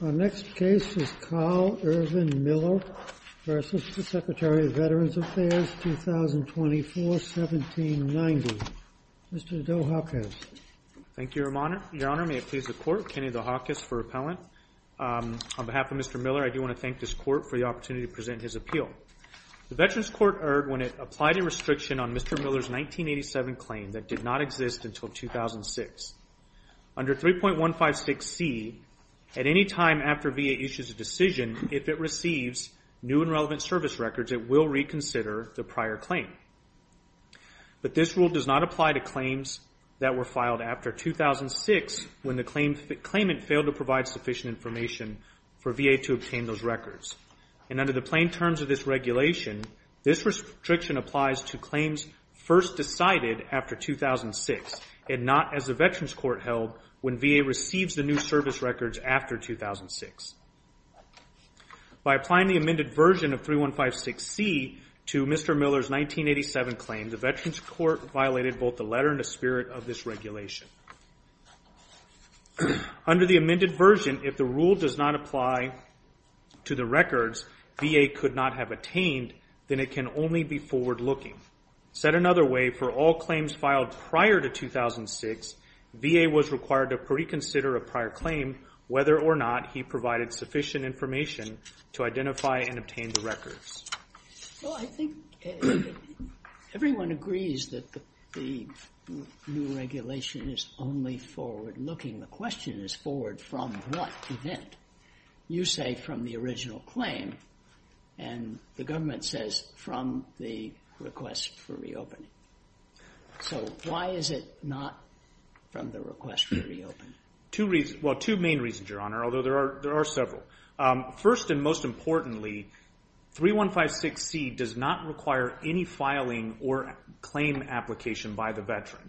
The next case is Carl Irvin Miller v. Secretary of Veterans Affairs, 2024-1790. Mr. Dohokis. Thank you, Your Honor. May it please the Court, Kenny Dohokis for repellent. On behalf of Mr. Miller, I do want to thank this Court for the opportunity to present his appeal. The Veterans Court erred when it applied a restriction on Mr. Miller's 1987 claim that did not exist until 2006. Under 3.156C, at any time after VA issues a decision, if it receives new and relevant service records, it will reconsider the prior claim. But this rule does not apply to claims that were filed after 2006 when the claimant failed to provide sufficient information for VA to obtain those records. And under the plain terms of this regulation, this restriction applies to claims first decided after 2006 and not as the Veterans Court held when VA receives the new service records after 2006. By applying the amended version of 3.156C to Mr. Miller's 1987 claim, the Veterans Court violated both the letter and the spirit of this regulation. Under the amended version, if the rule does not apply to the records VA could not have obtained, then it can only be forward-looking. Set another way, for all claims filed prior to 2006, VA was required to reconsider a prior claim whether or not he provided sufficient information to identify and obtain the records. Well, I think everyone agrees that the new regulation is only forward-looking. The question is forward from what event? You say from the original claim and the government says from the request for reopening. So why is it not from the request for reopening? Two main reasons, Your Honor, although there are several. First and most importantly, 3.156C does not require any filing or claim application by the Veteran.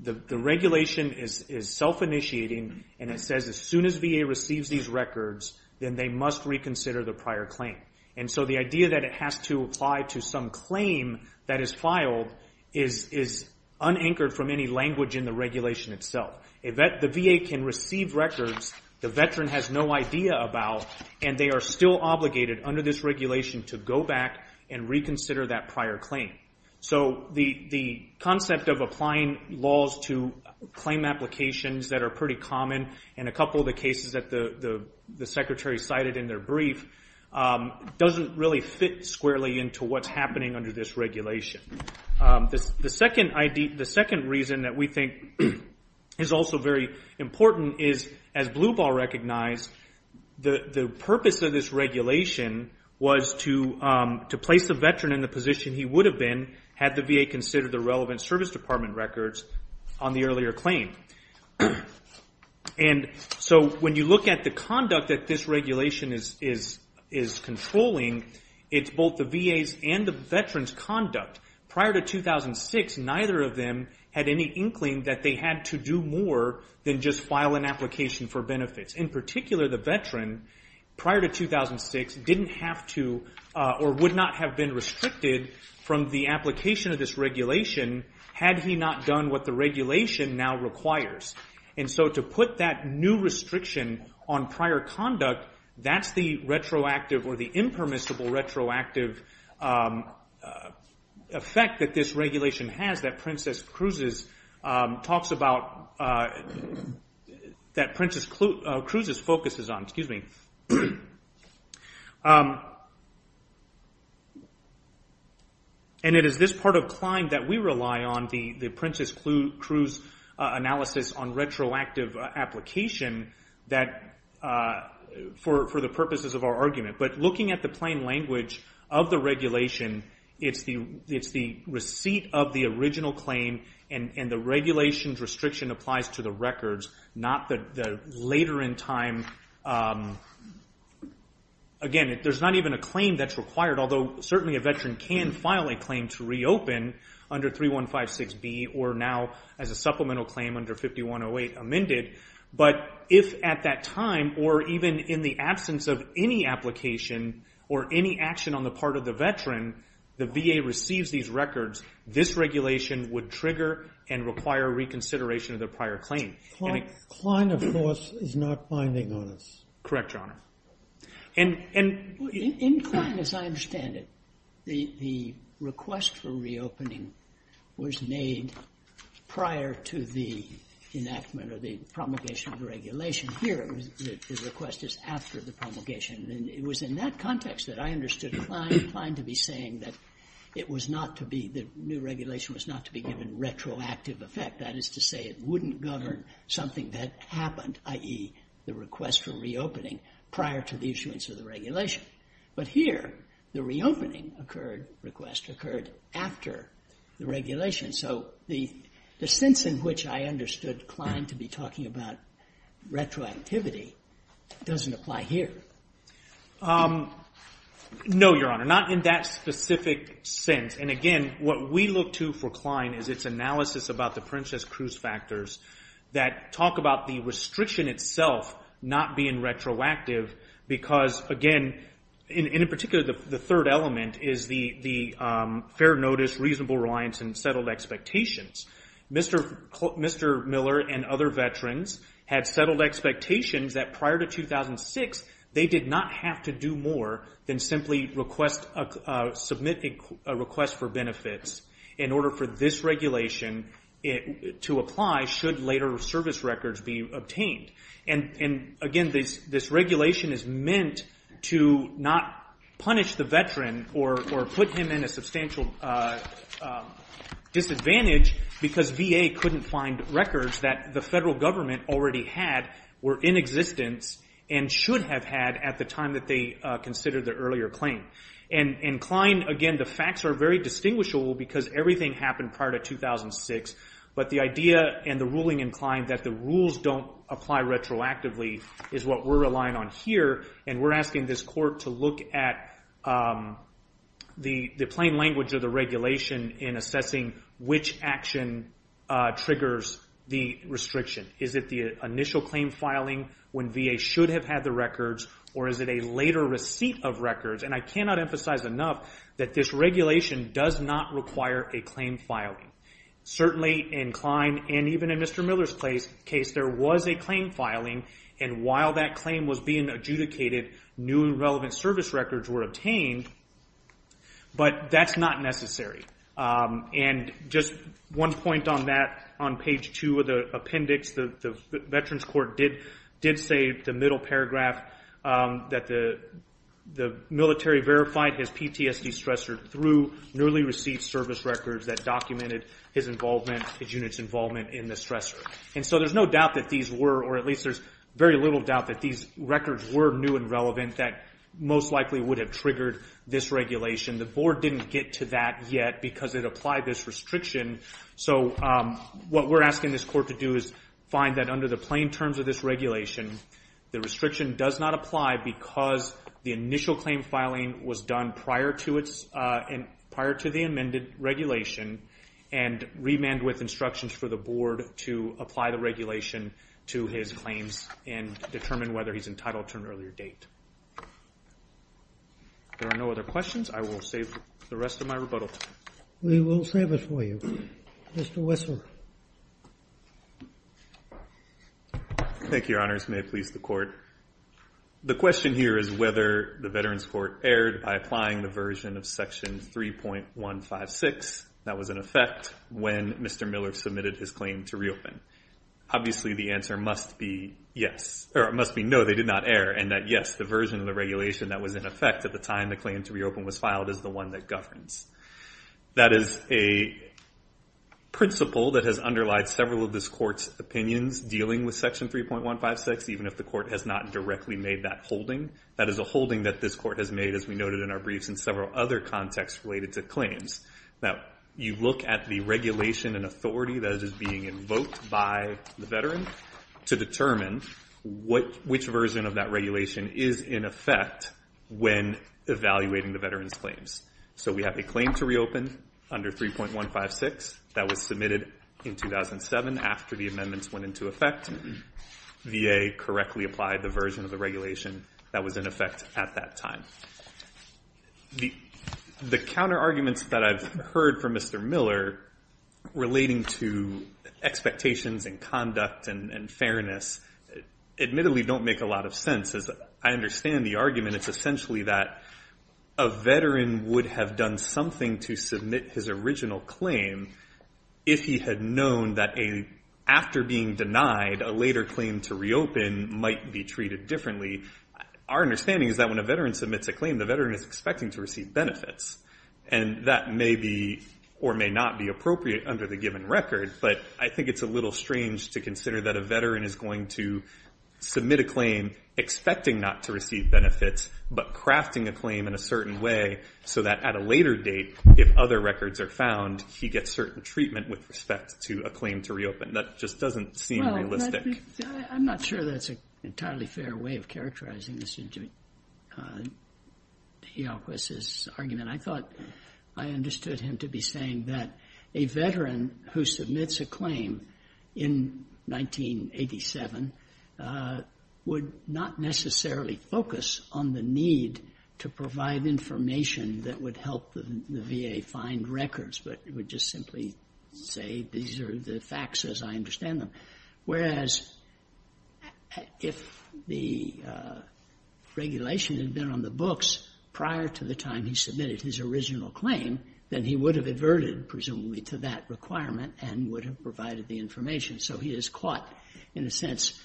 The regulation is self-initiating and it says as soon as VA receives these records, then they must reconsider the prior claim. And so the idea that it has to apply to some claim that is filed is unanchored from any language in the regulation itself. The VA can receive records the Veteran has no idea about and they are still obligated under this regulation to go back and reconsider that prior applications that are pretty common. And a couple of the cases that the Secretary cited in their brief doesn't really fit squarely into what's happening under this regulation. The second reason that we think is also very important is, as Blue Ball recognized, the purpose of this regulation was to place the Veteran in the position he would have been had the VA considered the relevant Service Department records on the earlier claim. And so when you look at the conduct that this regulation is controlling, it's both the VA's and the Veteran's conduct. Prior to 2006, neither of them had any inkling that they had to do more than just file an application for benefits. In particular, the Veteran, prior to 2006, didn't have to or would not have been restricted from the application of this regulation had he not done what the regulation now requires. And so to put that new restriction on prior conduct, that's the retroactive or the impermissible retroactive effect that this regulation has that Princess Cruises focuses on. And it is this part of CLIMB that we rely on, the Princess Cruise analysis on retroactive application, for the purposes of our argument. But looking at the language of the regulation, it's the receipt of the original claim and the regulations restriction applies to the records, not the later in time. Again, there's not even a claim that's required, although certainly a Veteran can file a claim to reopen under 3156B or now as a supplemental claim under 5108 amended. But if at that time or even in the absence of any application or any action on the part of the Veteran, the VA receives these records, this regulation would trigger and require reconsideration of the prior claim. Robert R. Reilly, Jr. CLIMB, of course, is not binding on us. Correct, Your Honor. In CLIMB, as I understand it, the request for reopening was made prior to the enactment of the promulgation of the regulation. Here, the request is after the promulgation. And it was in that context that I understood CLIMB to be saying that it was not to be, the new regulation was not to be given retroactive effect. That is to say, it wouldn't govern something that happened, i.e., the request for reopening prior to the issuance of the regulation. But here, the reopening request occurred after the regulation. So the sense in which I understood CLIMB to be talking about retroactivity doesn't apply here. No, Your Honor, not in that specific sense. And again, what we look to for CLIMB is its analysis about the Princess Cruz factors that talk about the restriction itself not being retroactive. Because again, and in particular, the third element is the fair notice, reasonable reliance, and settled expectations. Mr. Miller and other veterans had settled expectations that prior to 2006, they did not have to do more than simply submit a request for benefits in order for this regulation to apply should later service records be obtained. And again, this regulation is meant to not punish the veteran or put him in a substantial disadvantage because VA couldn't find records that the federal government already had, were in existence, and should have had at the time that they considered the earlier claim. And CLIMB, again, the facts are very distinguishable because everything happened prior to 2006. But the idea and the ruling in CLIMB that the rules don't apply retroactively is what we're relying on here. And we're asking this court to look at the plain language of the regulation in assessing which action triggers the restriction. Is it the initial claim filing when VA should have had the records, or is it a later receipt of records? And I cannot emphasize enough that this regulation does not require a claim filing. Certainly in CLIMB, and even in Mr. Miller's case, there was a claim filing. And while that claim was being adjudicated, new and relevant service records were obtained, but that's not necessary. And just one point on that, on page two of the appendix, the Veterans Court did say the middle paragraph, that the military verified his PTSD stressor through newly received service records that documented his involvement, his unit's involvement in the stressor. And so there's no doubt that these were, or at least there's very little doubt that these records were new and relevant that most likely would have triggered this regulation. The board didn't get to that yet because it applied this restriction. So what we're asking this court to do is find that under the main terms of this regulation, the restriction does not apply because the initial claim filing was done prior to the amended regulation and remand with instructions for the board to apply the regulation to his claims and determine whether he's entitled to an earlier date. There are no other questions. I will save the rest of my rebuttal time. We will save it for you. Mr. Whistler. Thank you, Your Honors. May it please the court. The question here is whether the Veterans Court erred by applying the version of section 3.156 that was in effect when Mr. Miller submitted his claim to reopen. Obviously the answer must be yes, or it must be no, they did not err, and that yes, the version of the regulation that was in effect at the time the claim to reopen was filed is the governs. That is a principle that has underlied several of this court's opinions dealing with section 3.156 even if the court has not directly made that holding. That is a holding that this court has made as we noted in our briefs in several other contexts related to claims. Now you look at the regulation and authority that is being invoked by the veteran to determine which version of that regulation is in effect when evaluating the veteran's claims. So we have a claim to reopen under 3.156 that was submitted in 2007 after the amendments went into effect. VA correctly applied the version of the regulation that was in effect at that time. The counter arguments that I've heard from Mr. Miller relating to expectations and conduct and fairness admittedly don't make a lot of sense. As I understand the argument, it's essentially that a veteran would have done something to submit his original claim if he had known that after being denied, a later claim to reopen might be treated differently. Our understanding is that when a veteran submits a claim, the veteran is expecting to receive benefits, and that may be or may not be appropriate under the given record, but I think it's a little strange to consider that a veteran is going to submit a claim expecting not to receive benefits, but crafting a claim in a certain way so that at a later date, if other records are found, he gets certain treatment with respect to a claim to reopen. That just doesn't seem realistic. I'm not sure that's an entirely fair way of characterizing this argument. I thought I understood him to be saying that a veteran who submits a claim in 1987 would not necessarily focus on the need to provide information that would help the VA find records, but would just simply say these are the facts as I understand them, whereas if the regulation had been on the books prior to the time he submitted his original claim, then he would have averted presumably to that requirement and would have provided the information, so he is caught in a sense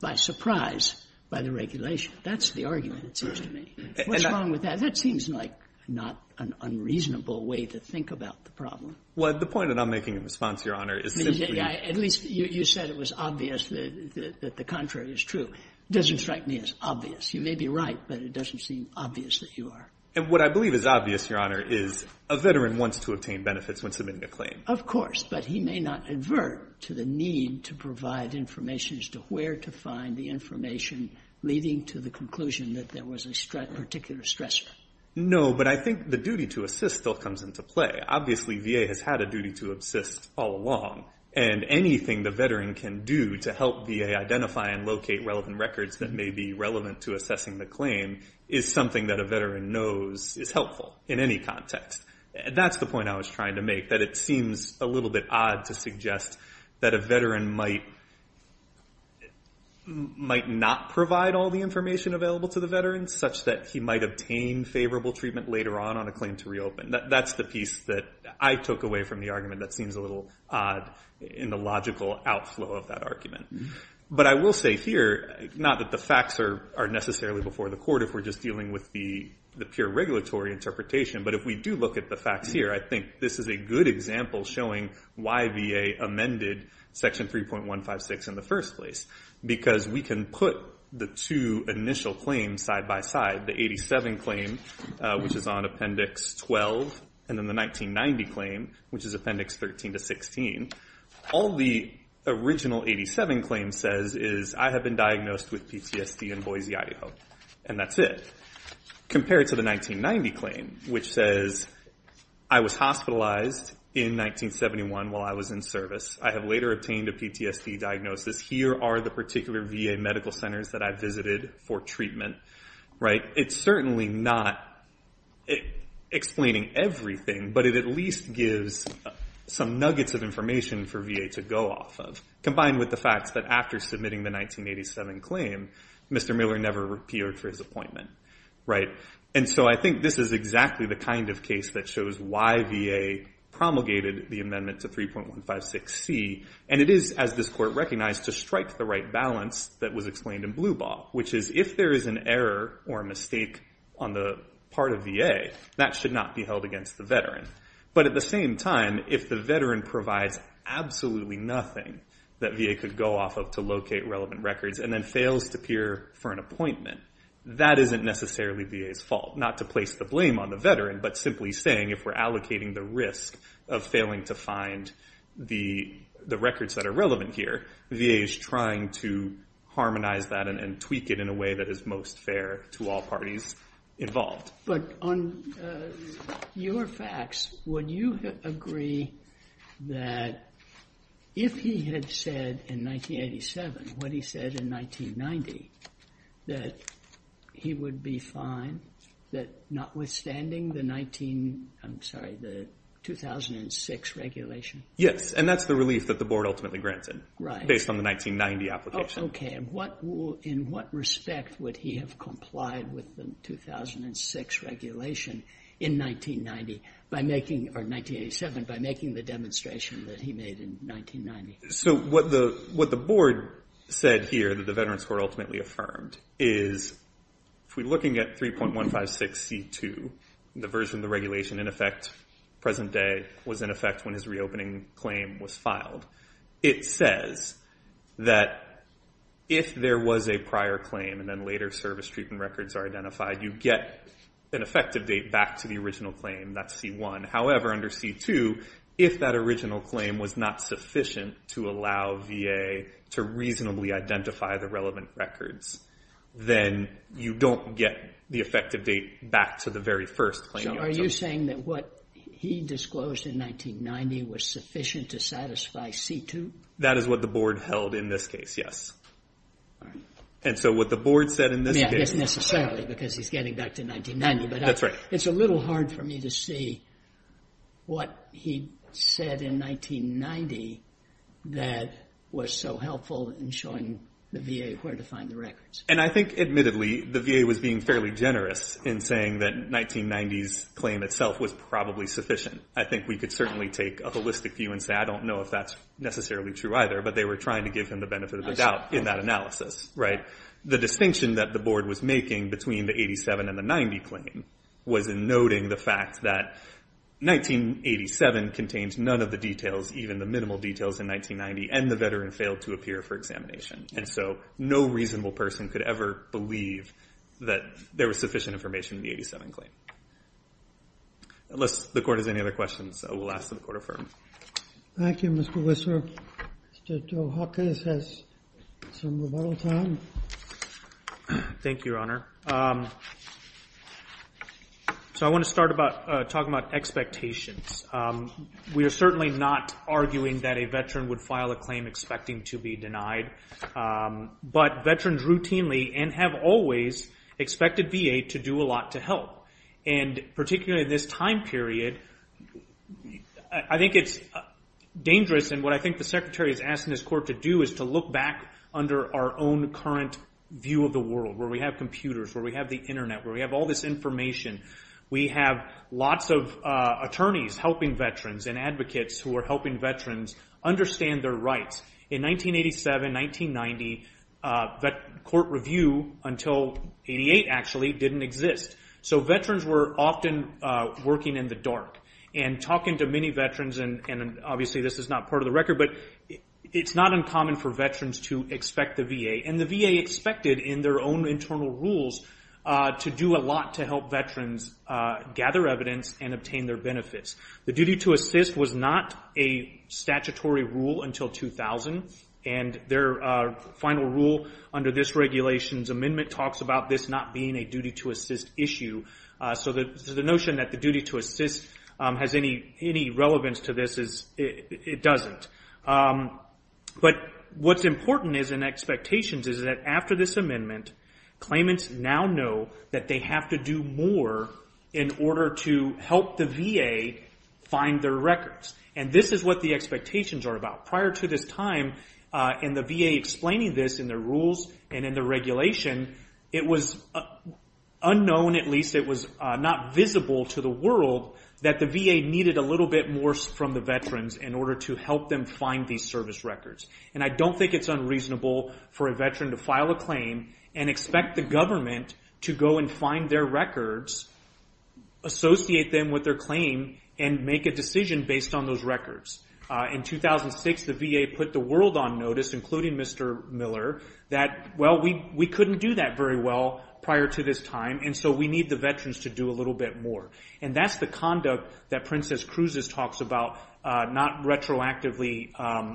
by surprise by the regulation. That's the argument, it seems to me. What's wrong with that? That seems like not an unreasonable way to think about the problem. Well, the point that I'm making in response, Your Honor, is simply... At least you said it was obvious that the contrary is true. It doesn't strike me as obvious. You may be right, but it doesn't seem obvious that you are. And what I believe is obvious, Your Honor, is a veteran wants to obtain benefits when submitting a claim. Of course, but he may not avert to the need to provide information as to where to find the information leading to the conclusion that there was a particular stressor. No, but I think the duty to assist still comes into play. Obviously, VA has had a duty to assist all along, and anything the veteran can do to help identify and locate relevant records that may be relevant to assessing the claim is something that a veteran knows is helpful in any context. That's the point I was trying to make, that it seems a little bit odd to suggest that a veteran might not provide all the information available to the veteran such that he might obtain favorable treatment later on on a claim to reopen. That's the piece that I took away from the argument that seems a little odd in the logical outflow of that argument. But I will say here, not that the facts are necessarily before the court if we're just dealing with the pure regulatory interpretation, but if we do look at the facts here, I think this is a good example showing why VA amended Section 3.156 in the first place, because we can put the two initial claims side by side, the 87 claim, which is on Appendix 12, and then the 1990 claim, which is Appendix 13 to 16. All the original 87 claim says is, I have been diagnosed with PTSD in Boise, Idaho, and that's it, compared to the 1990 claim, which says, I was hospitalized in 1971 while I was in service. I have later obtained a PTSD diagnosis. Here are the particular VA medical centers that I visited for treatment. It's certainly not explaining everything, but it at least gives some nuggets of information for VA to go off of, combined with the facts that after submitting the 1987 claim, Mr. Miller never appeared for his appointment. And so I think this is exactly the kind of case that shows why VA promulgated the amendment to 3.156C, and it is, as this recognized, to strike the right balance that was explained in Blue Ball, which is, if there is an error or a mistake on the part of VA, that should not be held against the veteran. But at the same time, if the veteran provides absolutely nothing that VA could go off of to locate relevant records and then fails to appear for an appointment, that isn't necessarily VA's fault, not to place the blame on the veteran, but simply saying, if we're allocating the risk of failing to find the records that are relevant here, VA is trying to harmonize that and tweak it in a way that is most fair to all parties involved. But on your facts, would you agree that if he had said in 1987 what he said in 1990, that he would be fine, that notwithstanding the 19, I'm sorry, the 2006 regulation? Yes, and that's the relief that the board ultimately granted based on the 1990 application. Okay, and in what respect would he have complied with the 2006 regulation in 1990, or 1987, by making the demonstration that he made in 1990? So what the board said here that the Veterans Court ultimately affirmed is, if we're looking at 3.156C2, the version of the regulation in effect present day was in effect when his reopening claim was filed. It says that if there was a prior claim and then later service treatment records are identified, you get an effective date back to the original claim, that's C1. However, under C2, if that original claim was not sufficient to allow VA to reasonably identify the relevant records, then you don't get the effective date back to the very first claim. So are you saying that what he disclosed in 1990 was sufficient to satisfy C2? That is what the board held in this case, yes. And so what the board said in this case... Not necessarily, because he's getting back to 1990, but it's a little hard for me to see what he said in 1990 that was so helpful in showing the VA where to find the records. And I think, admittedly, the VA was being fairly generous in saying that 1990's claim itself was probably sufficient. I think we could certainly take a holistic view and say, I don't know if that's necessarily true either, but they were trying to give him the benefit of the doubt in that analysis, right? The distinction that the board was making between the 87 and the 90 claim was in noting the fact that 1987 contains none of the details, even the minimal details in 1990, and the veteran failed to appear for examination. And so no reasonable person could ever believe that there was sufficient information in the 87 claim. Unless the court has any other questions, I will ask that the court affirm. Thank you, Mr. Whistler. Mr. Dohakis has some rebuttal time. Thank you, Your Honor. So I want to start talking about expectations. We are certainly not arguing that a veteran would file a claim expecting to be denied, but veterans routinely and have always expected VA to do a lot to help. And particularly in this time period, I think it's dangerous and what I think the Secretary is asking this court to do is to look back under our own current view of the world where we have computers, where we have the helping veterans and advocates who are helping veterans understand their rights. In 1987-1990, court review until 88 actually didn't exist. So veterans were often working in the dark and talking to many veterans and obviously this is not part of the record, but it's not uncommon for veterans to expect the VA and the VA expected in their own internal rules to do a lot to help veterans gather evidence and obtain their benefits. The duty to assist was not a statutory rule until 2000 and their final rule under this regulations amendment talks about this not being a duty to assist issue. So the notion that the duty to assist has any relevance to this, it doesn't. But what's important is in expectations is that after this amendment, claimants now know that they have to do more in order to help the VA find their records. And this is what the expectations are about. Prior to this time in the VA explaining this in their rules and in the regulation, it was unknown at least it was not visible to the world that the VA needed a in order to help them find these service records. And I don't think it's unreasonable for a veteran to file a claim and expect the government to go and find their records, associate them with their claim and make a decision based on those records. In 2006, the VA put the world on notice including Mr. Miller that, well, we couldn't do that very well prior to this time and so we need the veterans to do a little bit more. And that's the conduct that Princess Cruises talks about not retroactively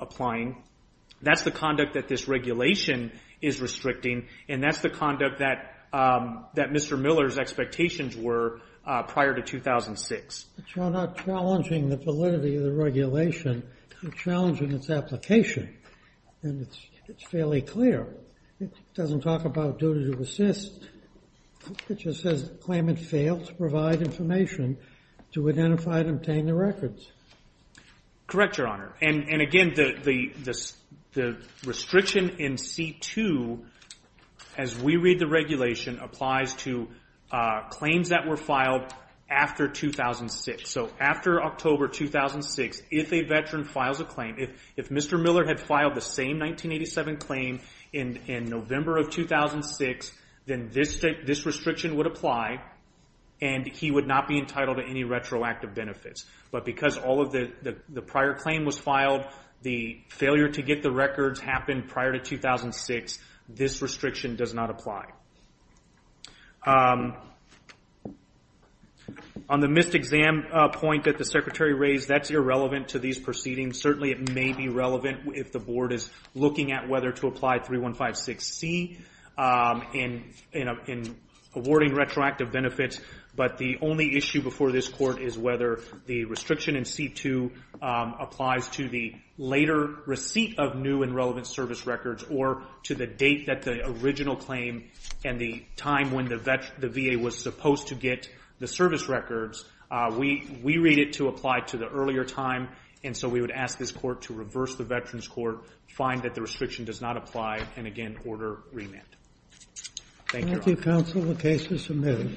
applying. That's the conduct that this regulation is restricting and that's the conduct that Mr. Miller's expectations were prior to 2006. It's not challenging the validity of the regulation. It's challenging its application and it's fairly clear. It doesn't talk about duty to assist. It just says the claimant failed to provide information to identify and obtain the records. Correct, Your Honor. And again, the restriction in C2 as we read the regulation applies to claims that were filed after 2006. So after October 2006, if a veteran files a claim, if Mr. Miller had filed the same 1987 claim in November of 2006, then this restriction would apply and he would not be entitled to any retroactive benefits. But because all of the prior claim was filed, the failure to get the records happened prior to 2006. This restriction does not apply. On the missed exam point that the Secretary raised, that's irrelevant to these proceedings. Certainly it may be relevant if the board is looking at whether to apply 3156C in awarding retroactive benefits. But the only issue before this court is whether the restriction in C2 applies to the later receipt of new and relevant service records or to the date that the original claim and the time when the VA was supposed to get the service records. We read it to apply to the earlier time and so we would ask this court to reverse the find that the restriction does not apply and again order remand. Thank you. Thank you, counsel. The case is submitted.